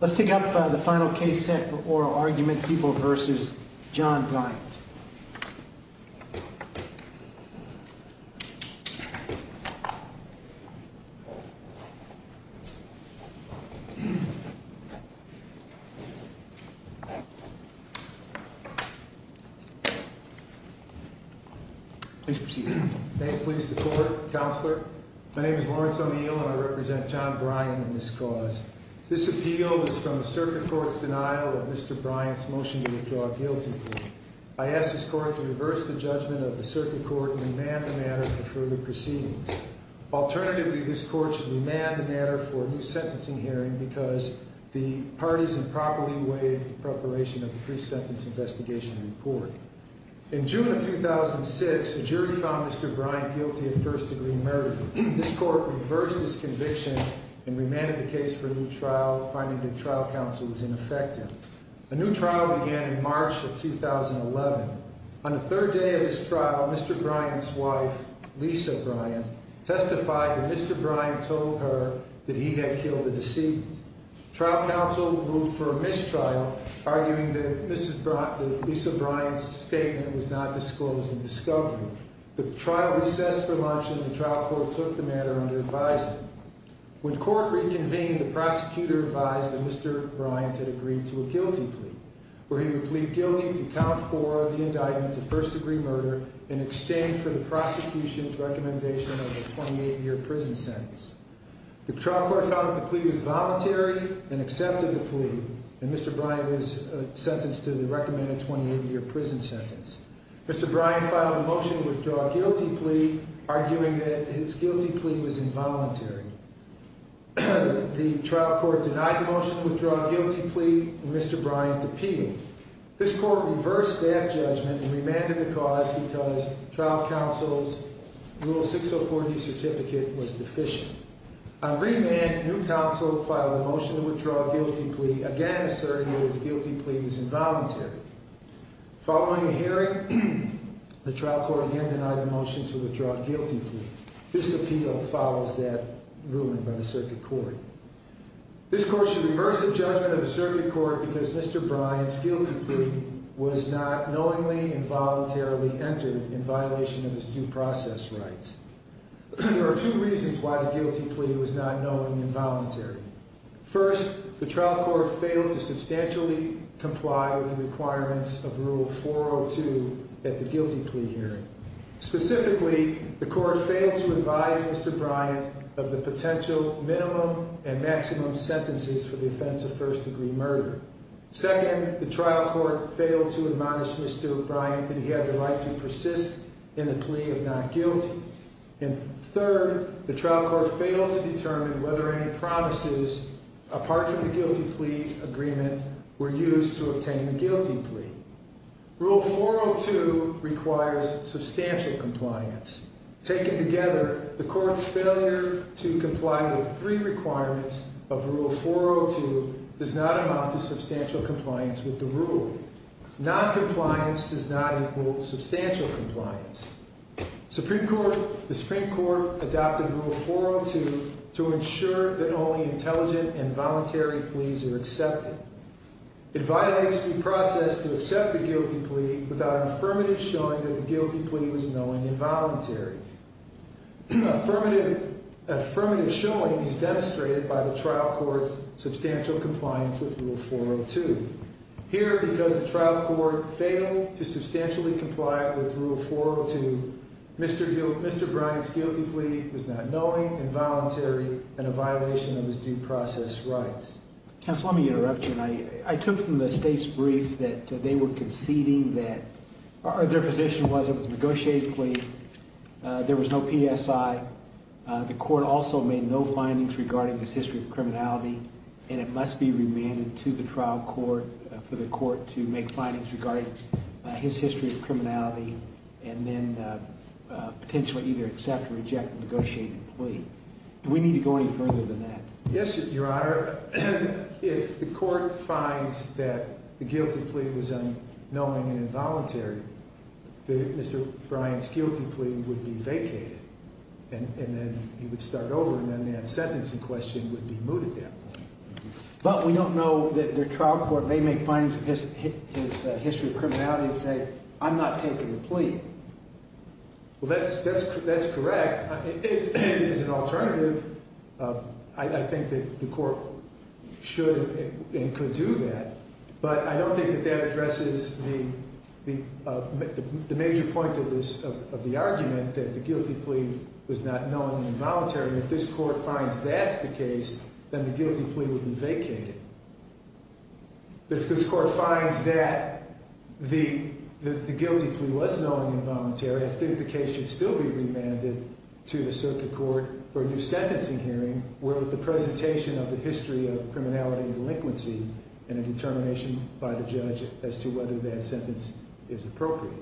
Let's take up the final case set for oral argument, People v. John Bryant. Please proceed. May it please the Court, Counselor. My name is Lawrence O'Neill and I represent John Bryant in this cause. This appeal is from the Circuit Court's denial of Mr. Bryant's motion to withdraw guilty. I ask this Court to reverse the judgment of the Circuit Court and remand the matter for further proceedings. Alternatively, this Court should remand the matter for a new sentencing hearing because the parties improperly waived the preparation of the pre-sentence investigation report. In June of 2006, a jury found Mr. Bryant guilty of first-degree murder. This Court reversed this conviction and remanded the case for a new trial, finding that trial counsel was ineffective. A new trial began in March of 2011. On the third day of this trial, Mr. Bryant's wife, Lisa Bryant, testified that Mr. Bryant told her that he had killed a deceitful. Trial counsel ruled for a mistrial, arguing that Lisa Bryant's statement was not disclosed in discovery. The trial recessed for lunch and the trial court took the matter under advisement. When court reconvened, the prosecutor advised that Mr. Bryant had agreed to a guilty plea, where he would plead guilty to count four of the indictments of first-degree murder in exchange for the prosecution's recommendation of a 28-year prison sentence. The trial court found that the plea was voluntary and accepted the plea, and Mr. Bryant was sentenced to the recommended 28-year prison sentence. Mr. Bryant filed a motion to withdraw a guilty plea, arguing that his guilty plea was involuntary. The trial court denied the motion to withdraw a guilty plea, and Mr. Bryant appealed. This Court reversed that judgment and remanded the cause because trial counsel's Rule 6040 certificate was deficient. On remand, a new counsel filed a motion to withdraw a guilty plea, again asserting that his guilty plea was involuntary. Following a hearing, the trial court again denied the motion to withdraw a guilty plea. This appeal follows that ruling by the Circuit Court. This Court should reverse the judgment of the Circuit Court because Mr. Bryant's guilty plea was not knowingly and voluntarily entered in violation of his due process rights. There are two reasons why the guilty plea was not known involuntary. First, the trial court failed to substantially comply with the requirements of Rule 402 at the guilty plea hearing. Specifically, the court failed to advise Mr. Bryant of the potential minimum and maximum sentences for the offense of first-degree murder. Second, the trial court failed to admonish Mr. Bryant that he had the right to persist in the plea of not guilty. And third, the trial court failed to determine whether any promises, apart from the guilty plea agreement, were used to obtain the guilty plea. Rule 402 requires substantial compliance. Taken together, the court's failure to comply with three requirements of Rule 402 does not amount to substantial compliance with the rule. Noncompliance does not equal substantial compliance. The Supreme Court adopted Rule 402 to ensure that only intelligent and voluntary pleas are accepted. It violates due process to accept a guilty plea without an affirmative showing that the guilty plea was knowingly and voluntarily. An affirmative showing is demonstrated by the trial court's substantial compliance with Rule 402. Here, because the trial court failed to substantially comply with Rule 402, Mr. Bryant's guilty plea was not knowingly and voluntarily and a violation of his due process rights. Counsel, let me interrupt you. I took from the state's brief that they were conceding that their position was it was a negotiated plea. There was no PSI. The court also made no findings regarding his history of criminality, and it must be remanded to the trial court for the court to make findings regarding his history of criminality and then potentially either accept or reject the negotiated plea. Do we need to go any further than that? Yes, Your Honor. Your Honor, if the court finds that the guilty plea was unknowingly and involuntary, Mr. Bryant's guilty plea would be vacated, and then he would start over, and then that sentencing question would be mooted at that point. But we don't know that the trial court may make findings of his history of criminality and say, I'm not taking the plea. Well, that's correct. As an alternative, I think that the court should and could do that, but I don't think that that addresses the major point of the argument that the guilty plea was not knowingly and voluntarily. If this court finds that's the case, then the guilty plea would be vacated. But if this court finds that the guilty plea was knowingly and voluntarily, I think the case should still be remanded to the circuit court for a new sentencing hearing with the presentation of the history of criminality and delinquency and a determination by the judge as to whether that sentence is appropriate.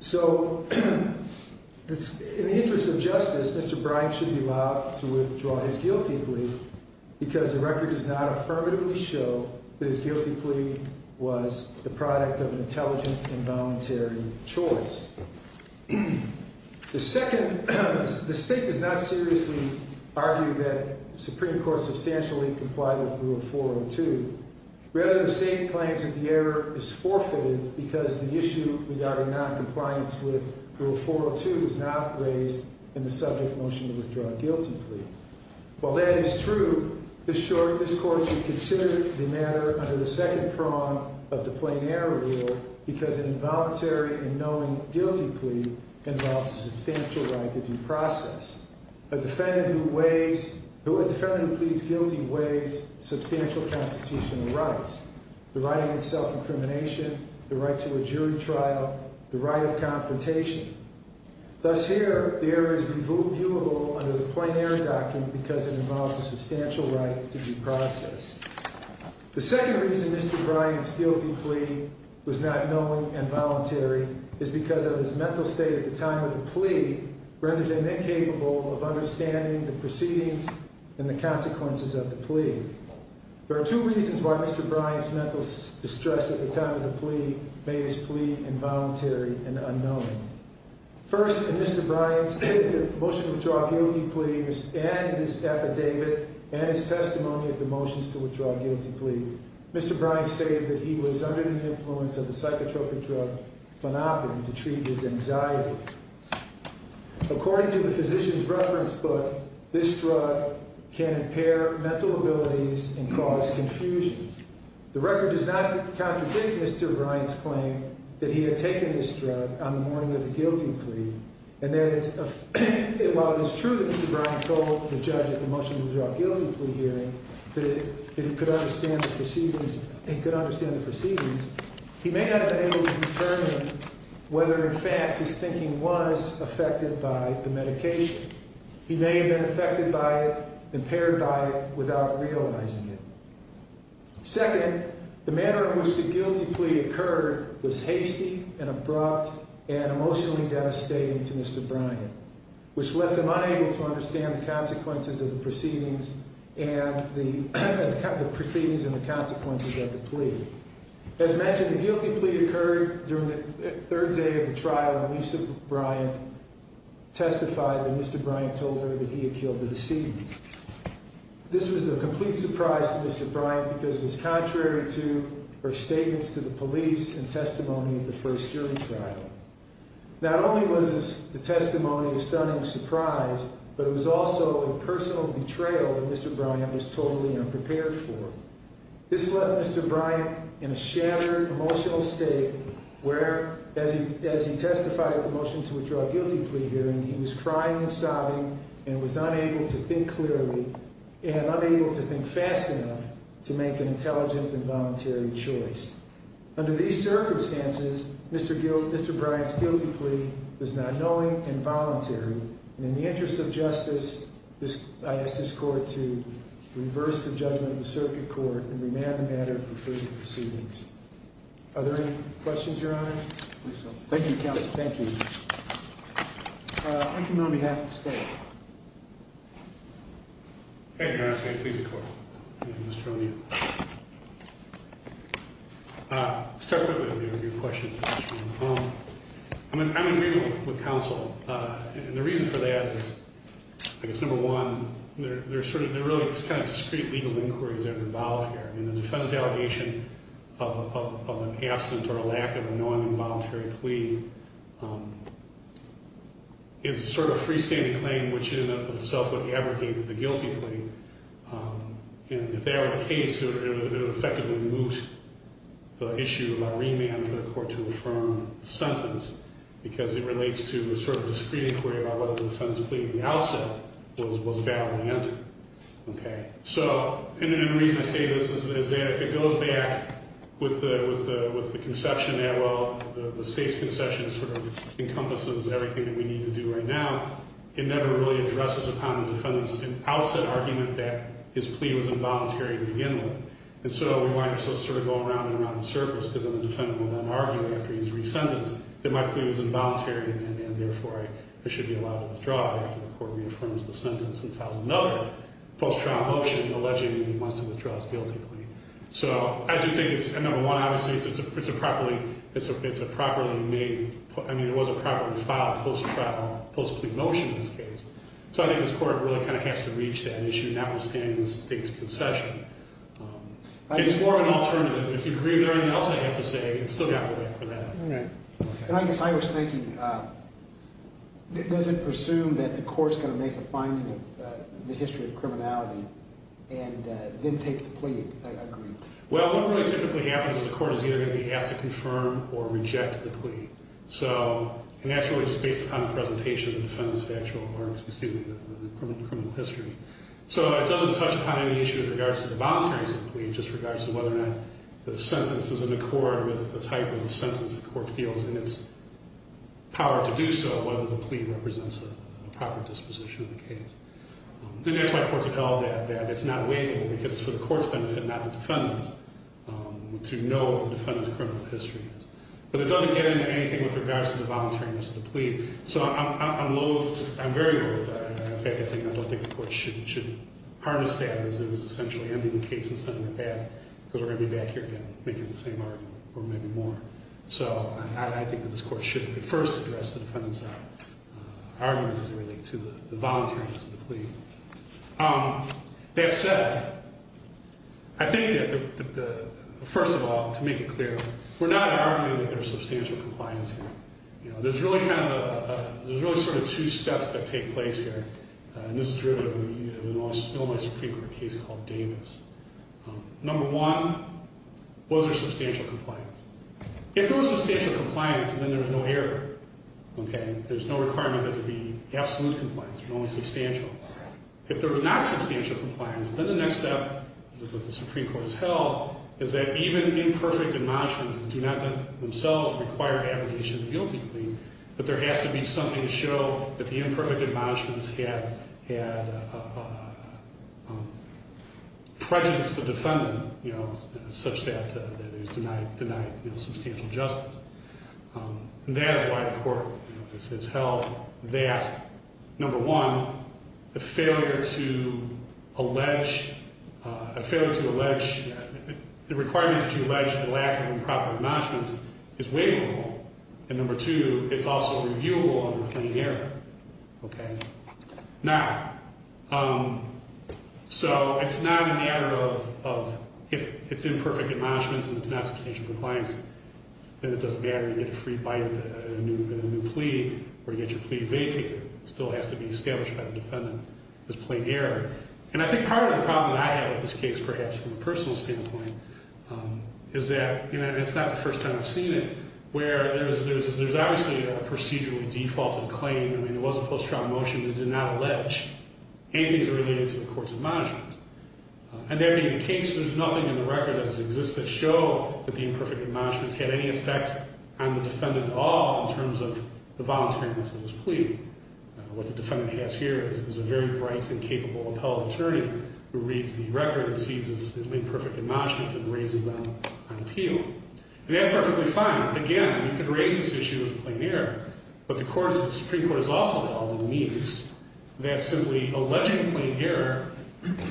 So in the interest of justice, Mr. Bryant should be allowed to withdraw his guilty plea because the record does not affirmatively show that his guilty plea was the product of an intelligent and voluntary choice. The state does not seriously argue that the Supreme Court substantially complied with Rule 402. Rather, the state claims that the error is forfeited because the issue regarding noncompliance with Rule 402 was not raised in the subject motion to withdraw a guilty plea. While that is true, this court should consider the matter under the second prong of the plein air rule because an involuntary and knowing guilty plea involves a substantial right to due process. A defendant who pleads guilty waives substantial constitutional rights, the right against self-incrimination, the right to a jury trial, the right of confrontation. Thus here, the error is reviewable under the plein air document because it involves a substantial right to due process. The second reason Mr. Bryant's guilty plea was not knowing and voluntary is because of his mental state at the time of the plea rather than incapable of understanding the proceedings and the consequences of the plea. There are two reasons why Mr. Bryant's mental distress at the time of the plea made his plea involuntary and unknowing. First, in Mr. Bryant's motion to withdraw a guilty plea and in his affidavit and his testimony of the motions to withdraw a guilty plea, Mr. Bryant stated that he was under the influence of the psychotropic drug planopin to treat his anxiety. According to the physician's reference book, this drug can impair mental abilities and cause confusion. The record does not contradict Mr. Bryant's claim that he had taken this drug on the morning of the guilty plea. While it is true that Mr. Bryant told the judge at the motion to withdraw a guilty plea hearing that he could understand the proceedings, he may not have been able to determine whether in fact his thinking was affected by the medication. He may have been affected by it, impaired by it, without realizing it. Second, the manner in which the guilty plea occurred was hasty and abrupt and emotionally devastating to Mr. Bryant, which left him unable to understand the consequences of the proceedings and the consequences of the plea. As mentioned, the guilty plea occurred during the third day of the trial when Lisa Bryant testified that Mr. Bryant told her that he had killed the decedent. This was a complete surprise to Mr. Bryant because it was contrary to her statements to the police and testimony of the first jury trial. Not only was the testimony a stunning surprise, but it was also a personal betrayal that Mr. Bryant was totally unprepared for. This left Mr. Bryant in a shattered emotional state where, as he testified at the motion to withdraw a guilty plea hearing, he was crying and sobbing and was unable to think clearly and unable to think fast enough to make an intelligent and voluntary choice. Under these circumstances, Mr. Bryant's guilty plea was not knowing and voluntary. And in the interest of justice, I ask this court to reverse the judgment of the circuit court and remand the matter for further proceedings. Are there any questions, Your Honor? Thank you, Counsel. Thank you. I come on behalf of the state. Your Honor, may I please record? Mr. O'Neill. I'll start quickly with your question. I'm in agreement with counsel. And the reason for that is, I guess, number one, there's sort of, there really is kind of discrete legal inquiries that are involved here. And the defendant's allegation of an absent or a lack of a knowing and voluntary plea is sort of a freestanding claim, which in and of itself would abrogate the guilty plea. And if that were the case, it would effectively moot the issue of a remand for the court to affirm the sentence, because it relates to a sort of discrete inquiry about whether the defendant's plea at the outset was valid or not. Okay. So, and the reason I say this is that it goes back with the conception that, well, the state's conception sort of encompasses everything that we need to do right now. It never really addresses upon the defendant's outset argument that his plea was involuntary to begin with. And so we might also sort of go around and around in circles, because then the defendant will then argue after he's resentenced that my plea was involuntary, and therefore I should be allowed to withdraw after the court reaffirms the sentence and files another post-trial motion alleging that he wants to withdraw his guilty plea. So I do think it's, number one, obviously, it's a properly made, I mean, it was a properly filed post-trial, post-plea motion in this case. So I think this court really kind of has to reach that issue, notwithstanding the state's conception. It's more of an alternative. If you agree with everything else I have to say, it's still got to wait for that. All right. And I guess I was thinking, does it presume that the court's going to make a finding of the history of criminality and then take the plea? I agree. Well, what really typically happens is the court is either going to be asked to confirm or reject the plea. And that's really just based upon the presentation of the defendant's factual or, excuse me, the criminal history. So it doesn't touch upon any issue in regards to the voluntariness of the plea, just regards to whether or not the sentence is in accord with the type of sentence the court feels in its power to do so, whether the plea represents a proper disposition of the case. And that's why courts have held that it's not waivable, because it's for the court's benefit, not the defendant's, to know what the defendant's criminal history is. But it doesn't get into anything with regards to the voluntariness of the plea. So I'm loathed, I'm very loathed by that. In fact, I don't think the court should harness that as essentially ending the case and sending it back, because we're going to be back here again making the same argument, or maybe more. So I think that this court should at first address the defendant's arguments as it relates to the voluntariness of the plea. That said, I think that, first of all, to make it clear, we're not arguing that there's substantial compliance here. There's really sort of two steps that take place here, and this is driven in a normally Supreme Court case called Davis. Number one, was there substantial compliance? If there was substantial compliance, then there was no error, okay? There's no requirement that there be absolute compliance, only substantial. If there was not substantial compliance, then the next step that the Supreme Court has held is that even imperfect admonishments do not themselves require abrogation of the guilty plea, but there has to be something to show that the imperfect admonishments had prejudiced the defendant, you know, such that it was denied substantial justice. And that is why the court has held that, number one, the failure to allege, a failure to allege, the requirement to allege the lack of improper admonishments is waivable, and number two, it's also reviewable under plain error, okay? Now, so it's not a matter of if it's imperfect admonishments and it's not substantial compliance, then it doesn't matter. You get a free bite with a new plea, or you get your plea vacated. It still has to be established by the defendant as plain error. And I think part of the problem I have with this case, perhaps from a personal standpoint, is that, you know, and it's not the first time I've seen it, where there's obviously a procedurally defaulted claim. I mean, there was a post-trial motion that did not allege anything that's related to the court's admonishments. And that being the case, there's nothing in the record as it exists that show that the imperfect admonishments had any effect on the defendant at all in terms of the voluntariness of his plea. What the defendant has here is a very bright and capable appellate attorney who reads the record and sees the imperfect admonishments and raises them on appeal. And that's perfectly fine. Again, you could raise this issue with plain error, but the Supreme Court has also held on the means that simply alleging plain error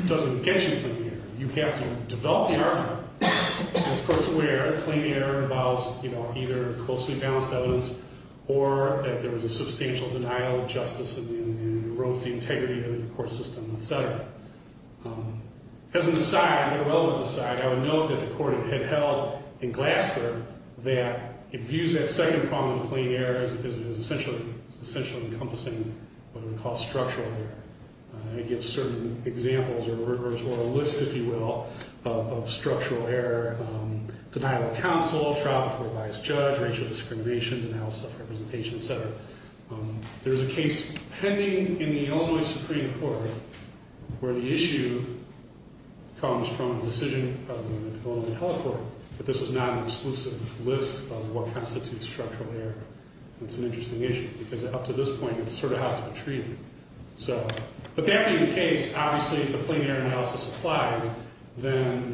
doesn't get you plain error. You have to develop the argument. As the Court's aware, plain error involves, you know, either closely balanced evidence or that there was a substantial denial of justice and erodes the integrity of the court system, et cetera. As an aside, a relative aside, I would note that the Court had held in Glasgow that it views that second problem of plain error as essentially encompassing what we call structural error. It gives certain examples or a list, if you will, of structural error. Denial of counsel, trial before a vice judge, racial discrimination, denial of self-representation, et cetera. There's a case pending in the Illinois Supreme Court where the issue comes from a decision of the Illinois Held Court, but this is not an exclusive list of what constitutes structural error. That's an interesting issue because up to this point, it's sort of how it's been treated. But that being the case, obviously, if the plain error analysis applies, then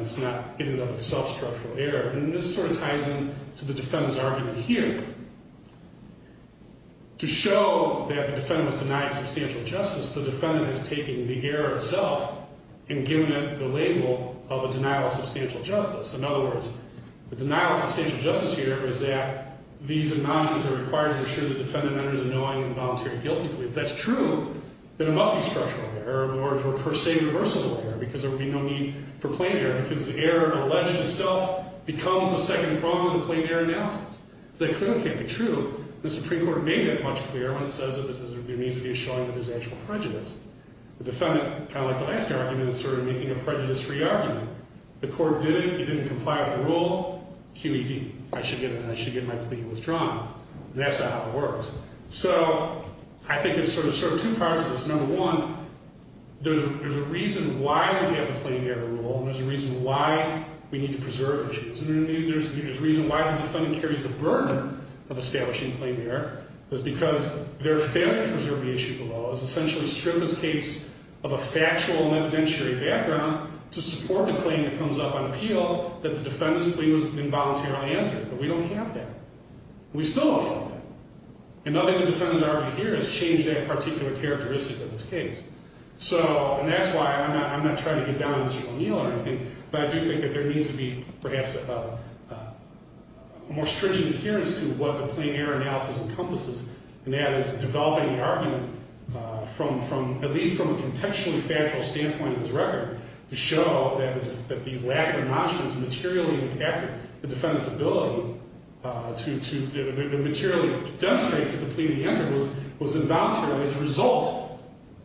it's not in and of itself structural error. And this sort of ties in to the defendant's argument here. To show that the defendant was denied substantial justice, the defendant is taking the error itself and giving it the label of a denial of substantial justice. In other words, the denial of substantial justice here is that these amnesties are required to assure the defendant that it is a knowing and voluntary guilty plea. If that's true, then it must be structural error or, per se, reversible error because there would be no need for plain error because the error alleged itself becomes the second prong of the plain error analysis. That clearly can't be true. The Supreme Court made it much clearer when it says that there needs to be a showing that there's actual prejudice. The defendant, kind of like the last argument, is sort of making a prejudice-free argument. The court did it. He didn't comply with the rule. QED. I should get my plea withdrawn. And that's not how it works. So I think there's sort of two parts of this. Number one, there's a reason why we have the plain error rule and there's a reason why we need to preserve it. There's a reason why the defendant carries the burden of establishing plain error. It's because they're failing to preserve the issue below. It's essentially stripped this case of a factual and evidentiary background to support the claim that comes up on appeal that the defendant's plea was involuntarily answered. But we don't have that. We still don't have that. And nothing the defendant's argument here has changed that particular characteristic of this case. So, and that's why I'm not trying to get down on a steel kneel or anything, but I do think that there needs to be perhaps a more stringent adherence to what the plain error analysis encompasses, and that is developing the argument from at least from a contextually factual standpoint in this record to show that these lack of notions materially impacted the defendant's ability to materially demonstrate that the plea to be answered was involuntarily the result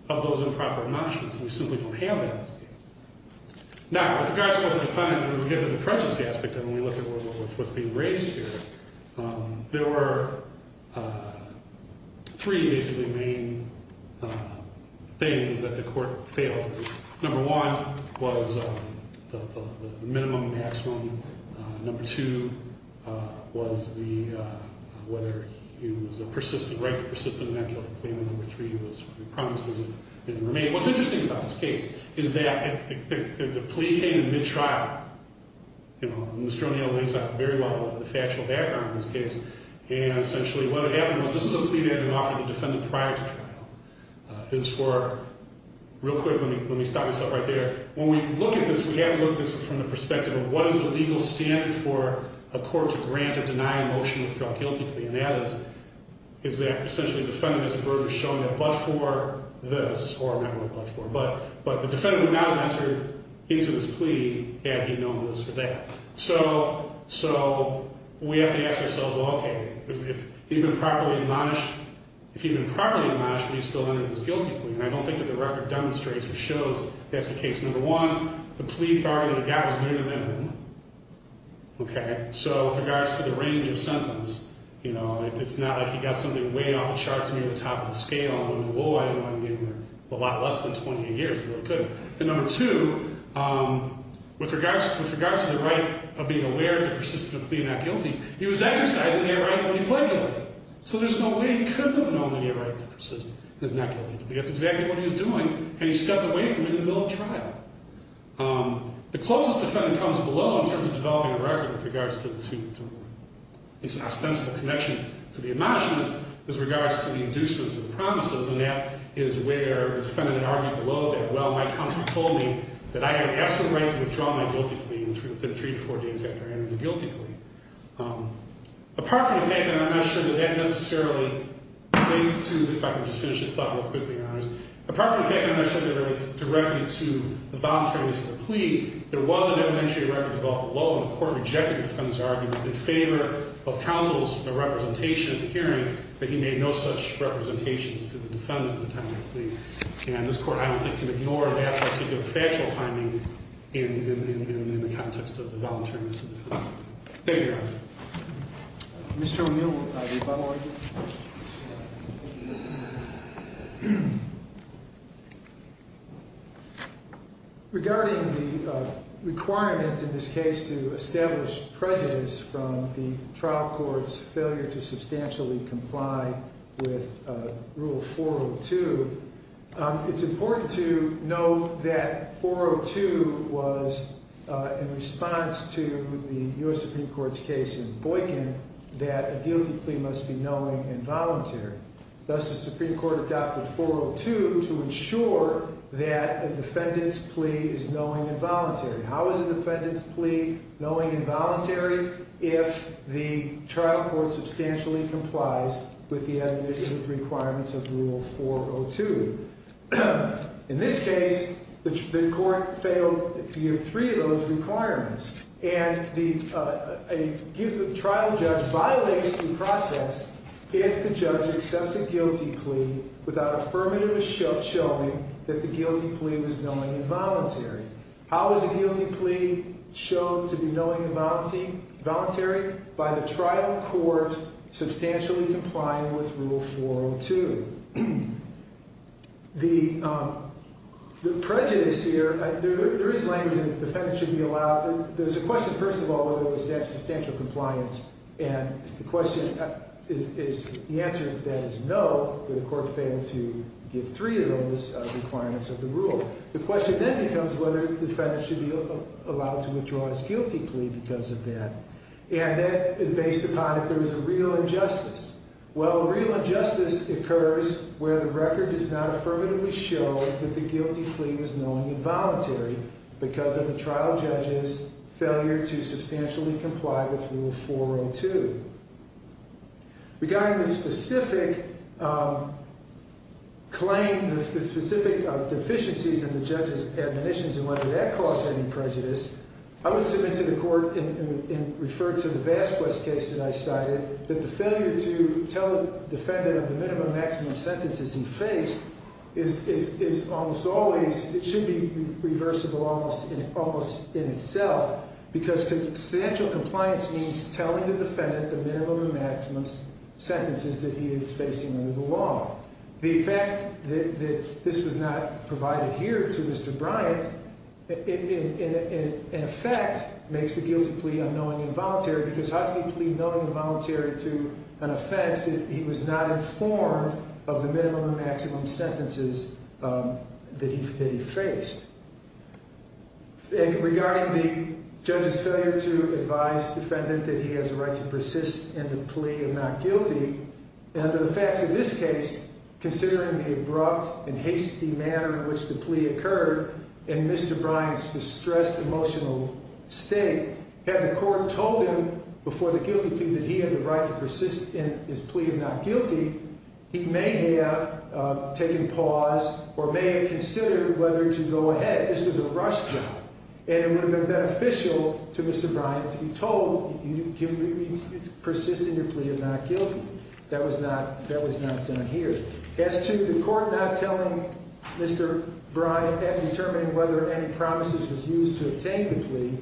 of those improper notions. We simply don't have that in this case. Now, with regards to what the defendant, when we get to the prejudice aspect of it, when we look at what's being raised here, there were three basically main things that the court failed to do. Number one was the minimum and maximum. Number two was the, whether he was a persistent, right, persistent in that guilty plea. And number three was the promise doesn't remain. What's interesting about this case is that the plea came in mid-trial. You know, Mr. O'Neill lays out very well the factual background of this case, and essentially what had happened was this is a plea that had been offered to the defendant prior to trial. It's for, real quick, let me stop myself right there. When we look at this, we have to look at this from the perspective of what is the legal standard for a court to grant a denying motion of a guilty plea, and that is that essentially the defendant is a burden showing that but for this, or not only but for, but the defendant would not have entered into this plea had he known this or that. So we have to ask ourselves, well, okay, if he'd been properly admonished, if he'd been properly admonished, would he still have entered into this guilty plea? And I don't think that the record demonstrates or shows that's the case. Number one, the plea bargain that he got was near the minimum, okay? So with regards to the range of sentence, you know, it's not like he got something way off the charts, maybe at the top of the scale. I mean, whoa, I didn't want him getting a lot less than 28 years, but he couldn't. And number two, with regards to the right of being aware to persistently plead not guilty, he was exercising that right when he pled guilty. So there's no way he couldn't have known that he had a right to persist in his not guilty plea. That's exactly what he was doing, and he stepped away from it in the middle of trial. The closest defendant comes below in terms of developing a record with regards to this ostensible connection to the admonishments, is regards to the inducements and the promises, and that is where the defendant had argued below that, well, my counsel told me that I had an absolute right to withdraw my guilty plea within three to four days after I entered the guilty plea. Apart from the fact that I'm not sure that that necessarily relates to, if I can just finish this thought real quickly, Your Honors, apart from the fact that I'm not sure that it relates directly to the voluntariness of the plea, there was an evidentiary record developed below, and the court rejected the defendant's argument in favor of counsel's representation at the hearing that he made no such representations to the defendant at the time of the plea. And this court, I don't think, can ignore that particular factual finding in the context of the voluntariness of the plea. Thank you, Your Honor. Mr. O'Neill, will you follow up? Regarding the requirement in this case to establish prejudice from the trial court's failure to substantially comply with Rule 402, it's important to note that 402 was in response to the U.S. Supreme Court's case in Boykin that a guilty plea must be knowing and voluntary. Thus, the Supreme Court adopted 402 to ensure that a defendant's plea is knowing and voluntary. How is a defendant's plea knowing and voluntary if the trial court substantially complies with the administrative requirements of Rule 402? In this case, the court failed to give three of those requirements. And the trial judge violates the process if the judge accepts a guilty plea without affirmative showing that the guilty plea was knowing and voluntary. How is a guilty plea shown to be knowing and voluntary? By the trial court substantially complying with Rule 402. The prejudice here, there is language that the defendant should be allowed. There's a question, first of all, whether there was substantial compliance. And the question is, the answer to that is no, but the court failed to give three of those requirements of the rule. The question then becomes whether the defendant should be allowed to withdraw his guilty plea because of that. And based upon it, there was a real injustice. Well, a real injustice occurs where the record does not affirmatively show that the guilty plea was knowing and voluntary because of the trial judge's failure to substantially comply with Rule 402. Regarding the specific claim, the specific deficiencies in the judge's admonitions and whether that caused any prejudice, I would submit to the court and refer to the Vasquez case that I cited, that the failure to tell the defendant of the minimum and maximum sentences he faced is almost always, it should be reversible almost in itself because substantial compliance means telling the defendant the minimum and maximum sentences that he is facing under the law. The fact that this was not provided here to Mr. Bryant, in effect, makes the guilty plea unknowing and voluntary because how can you plead knowing and voluntary to an offense if he was not informed of the minimum and maximum sentences that he faced? Regarding the judge's failure to advise the defendant that he has the right to persist in the plea of not guilty, under the facts of this case, considering the abrupt and hasty manner in which the plea occurred and Mr. Bryant's distressed emotional state, had the court told him before the guilty plea that he had the right to persist in his plea of not guilty, he may have taken pause or may have considered whether to go ahead. This was a rush job, and it would have been beneficial to Mr. Bryant to be told, you can persist in your plea of not guilty. That was not done here. As to the court not telling Mr. Bryant at determining whether any promises was used to obtain the plea,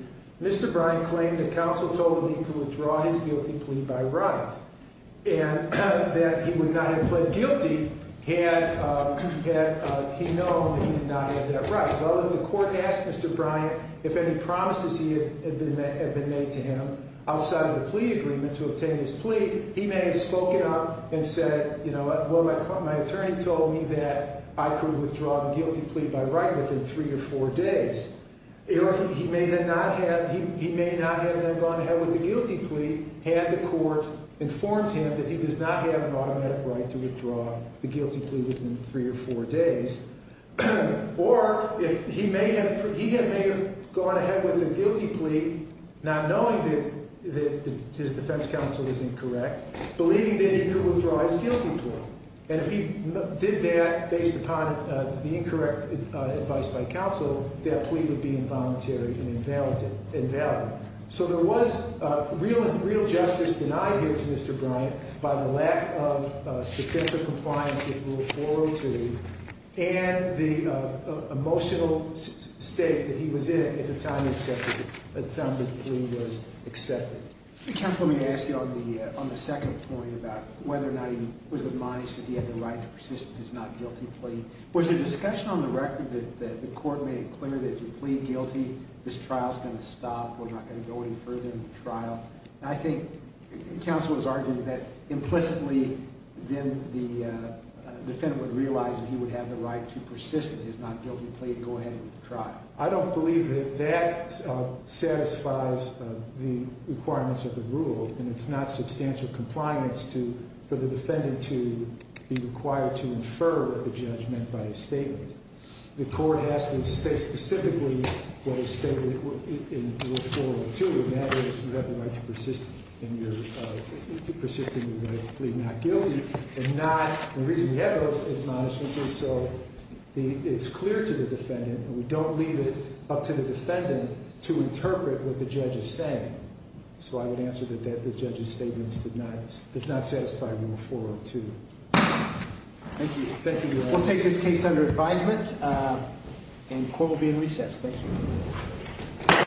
Mr. Bryant claimed that counsel told him he could withdraw his guilty plea by right, and that he would not have pled guilty had he known that he did not have that right. Well, if the court asked Mr. Bryant if any promises had been made to him outside of the plea agreement to obtain his plea, he may have spoken up and said, you know what, my attorney told me that I could withdraw the guilty plea by right within three to four days. He may not have then gone ahead with the guilty plea had the court informed him that he does not have an automatic right to withdraw the guilty plea within three or four days. Or he may have gone ahead with the guilty plea not knowing that his defense counsel was incorrect, believing that he could withdraw his guilty plea. And if he did that based upon the incorrect advice by counsel, that plea would be involuntary and invalid. So there was real justice denied here to Mr. Bryant by the lack of substantial compliance with Rule 402, and the emotional state that he was in at the time the plea was accepted. Counsel, let me ask you on the second point about whether or not he was admonished that he had the right to persist in his not guilty plea. Was there discussion on the record that the court made it clear that if you plead guilty, this trial's going to stop, we're not going to go any further in the trial? I think counsel was arguing that implicitly then the defendant would realize that he would have the right to persist in his not guilty plea and go ahead with the trial. I don't believe that that satisfies the requirements of the rule, and it's not substantial compliance for the defendant to be required to infer what the judge meant by his statement. The court has to state specifically what his statement in Rule 402, and that is you have the right to persist in your right to plead not guilty. The reason we have those admonishments is so it's clear to the defendant and we don't leave it up to the defendant to interpret what the judge is saying. So I would answer that the judge's statements did not satisfy Rule 402. Thank you. We'll take this case under advisement and court will be in recess. Thank you.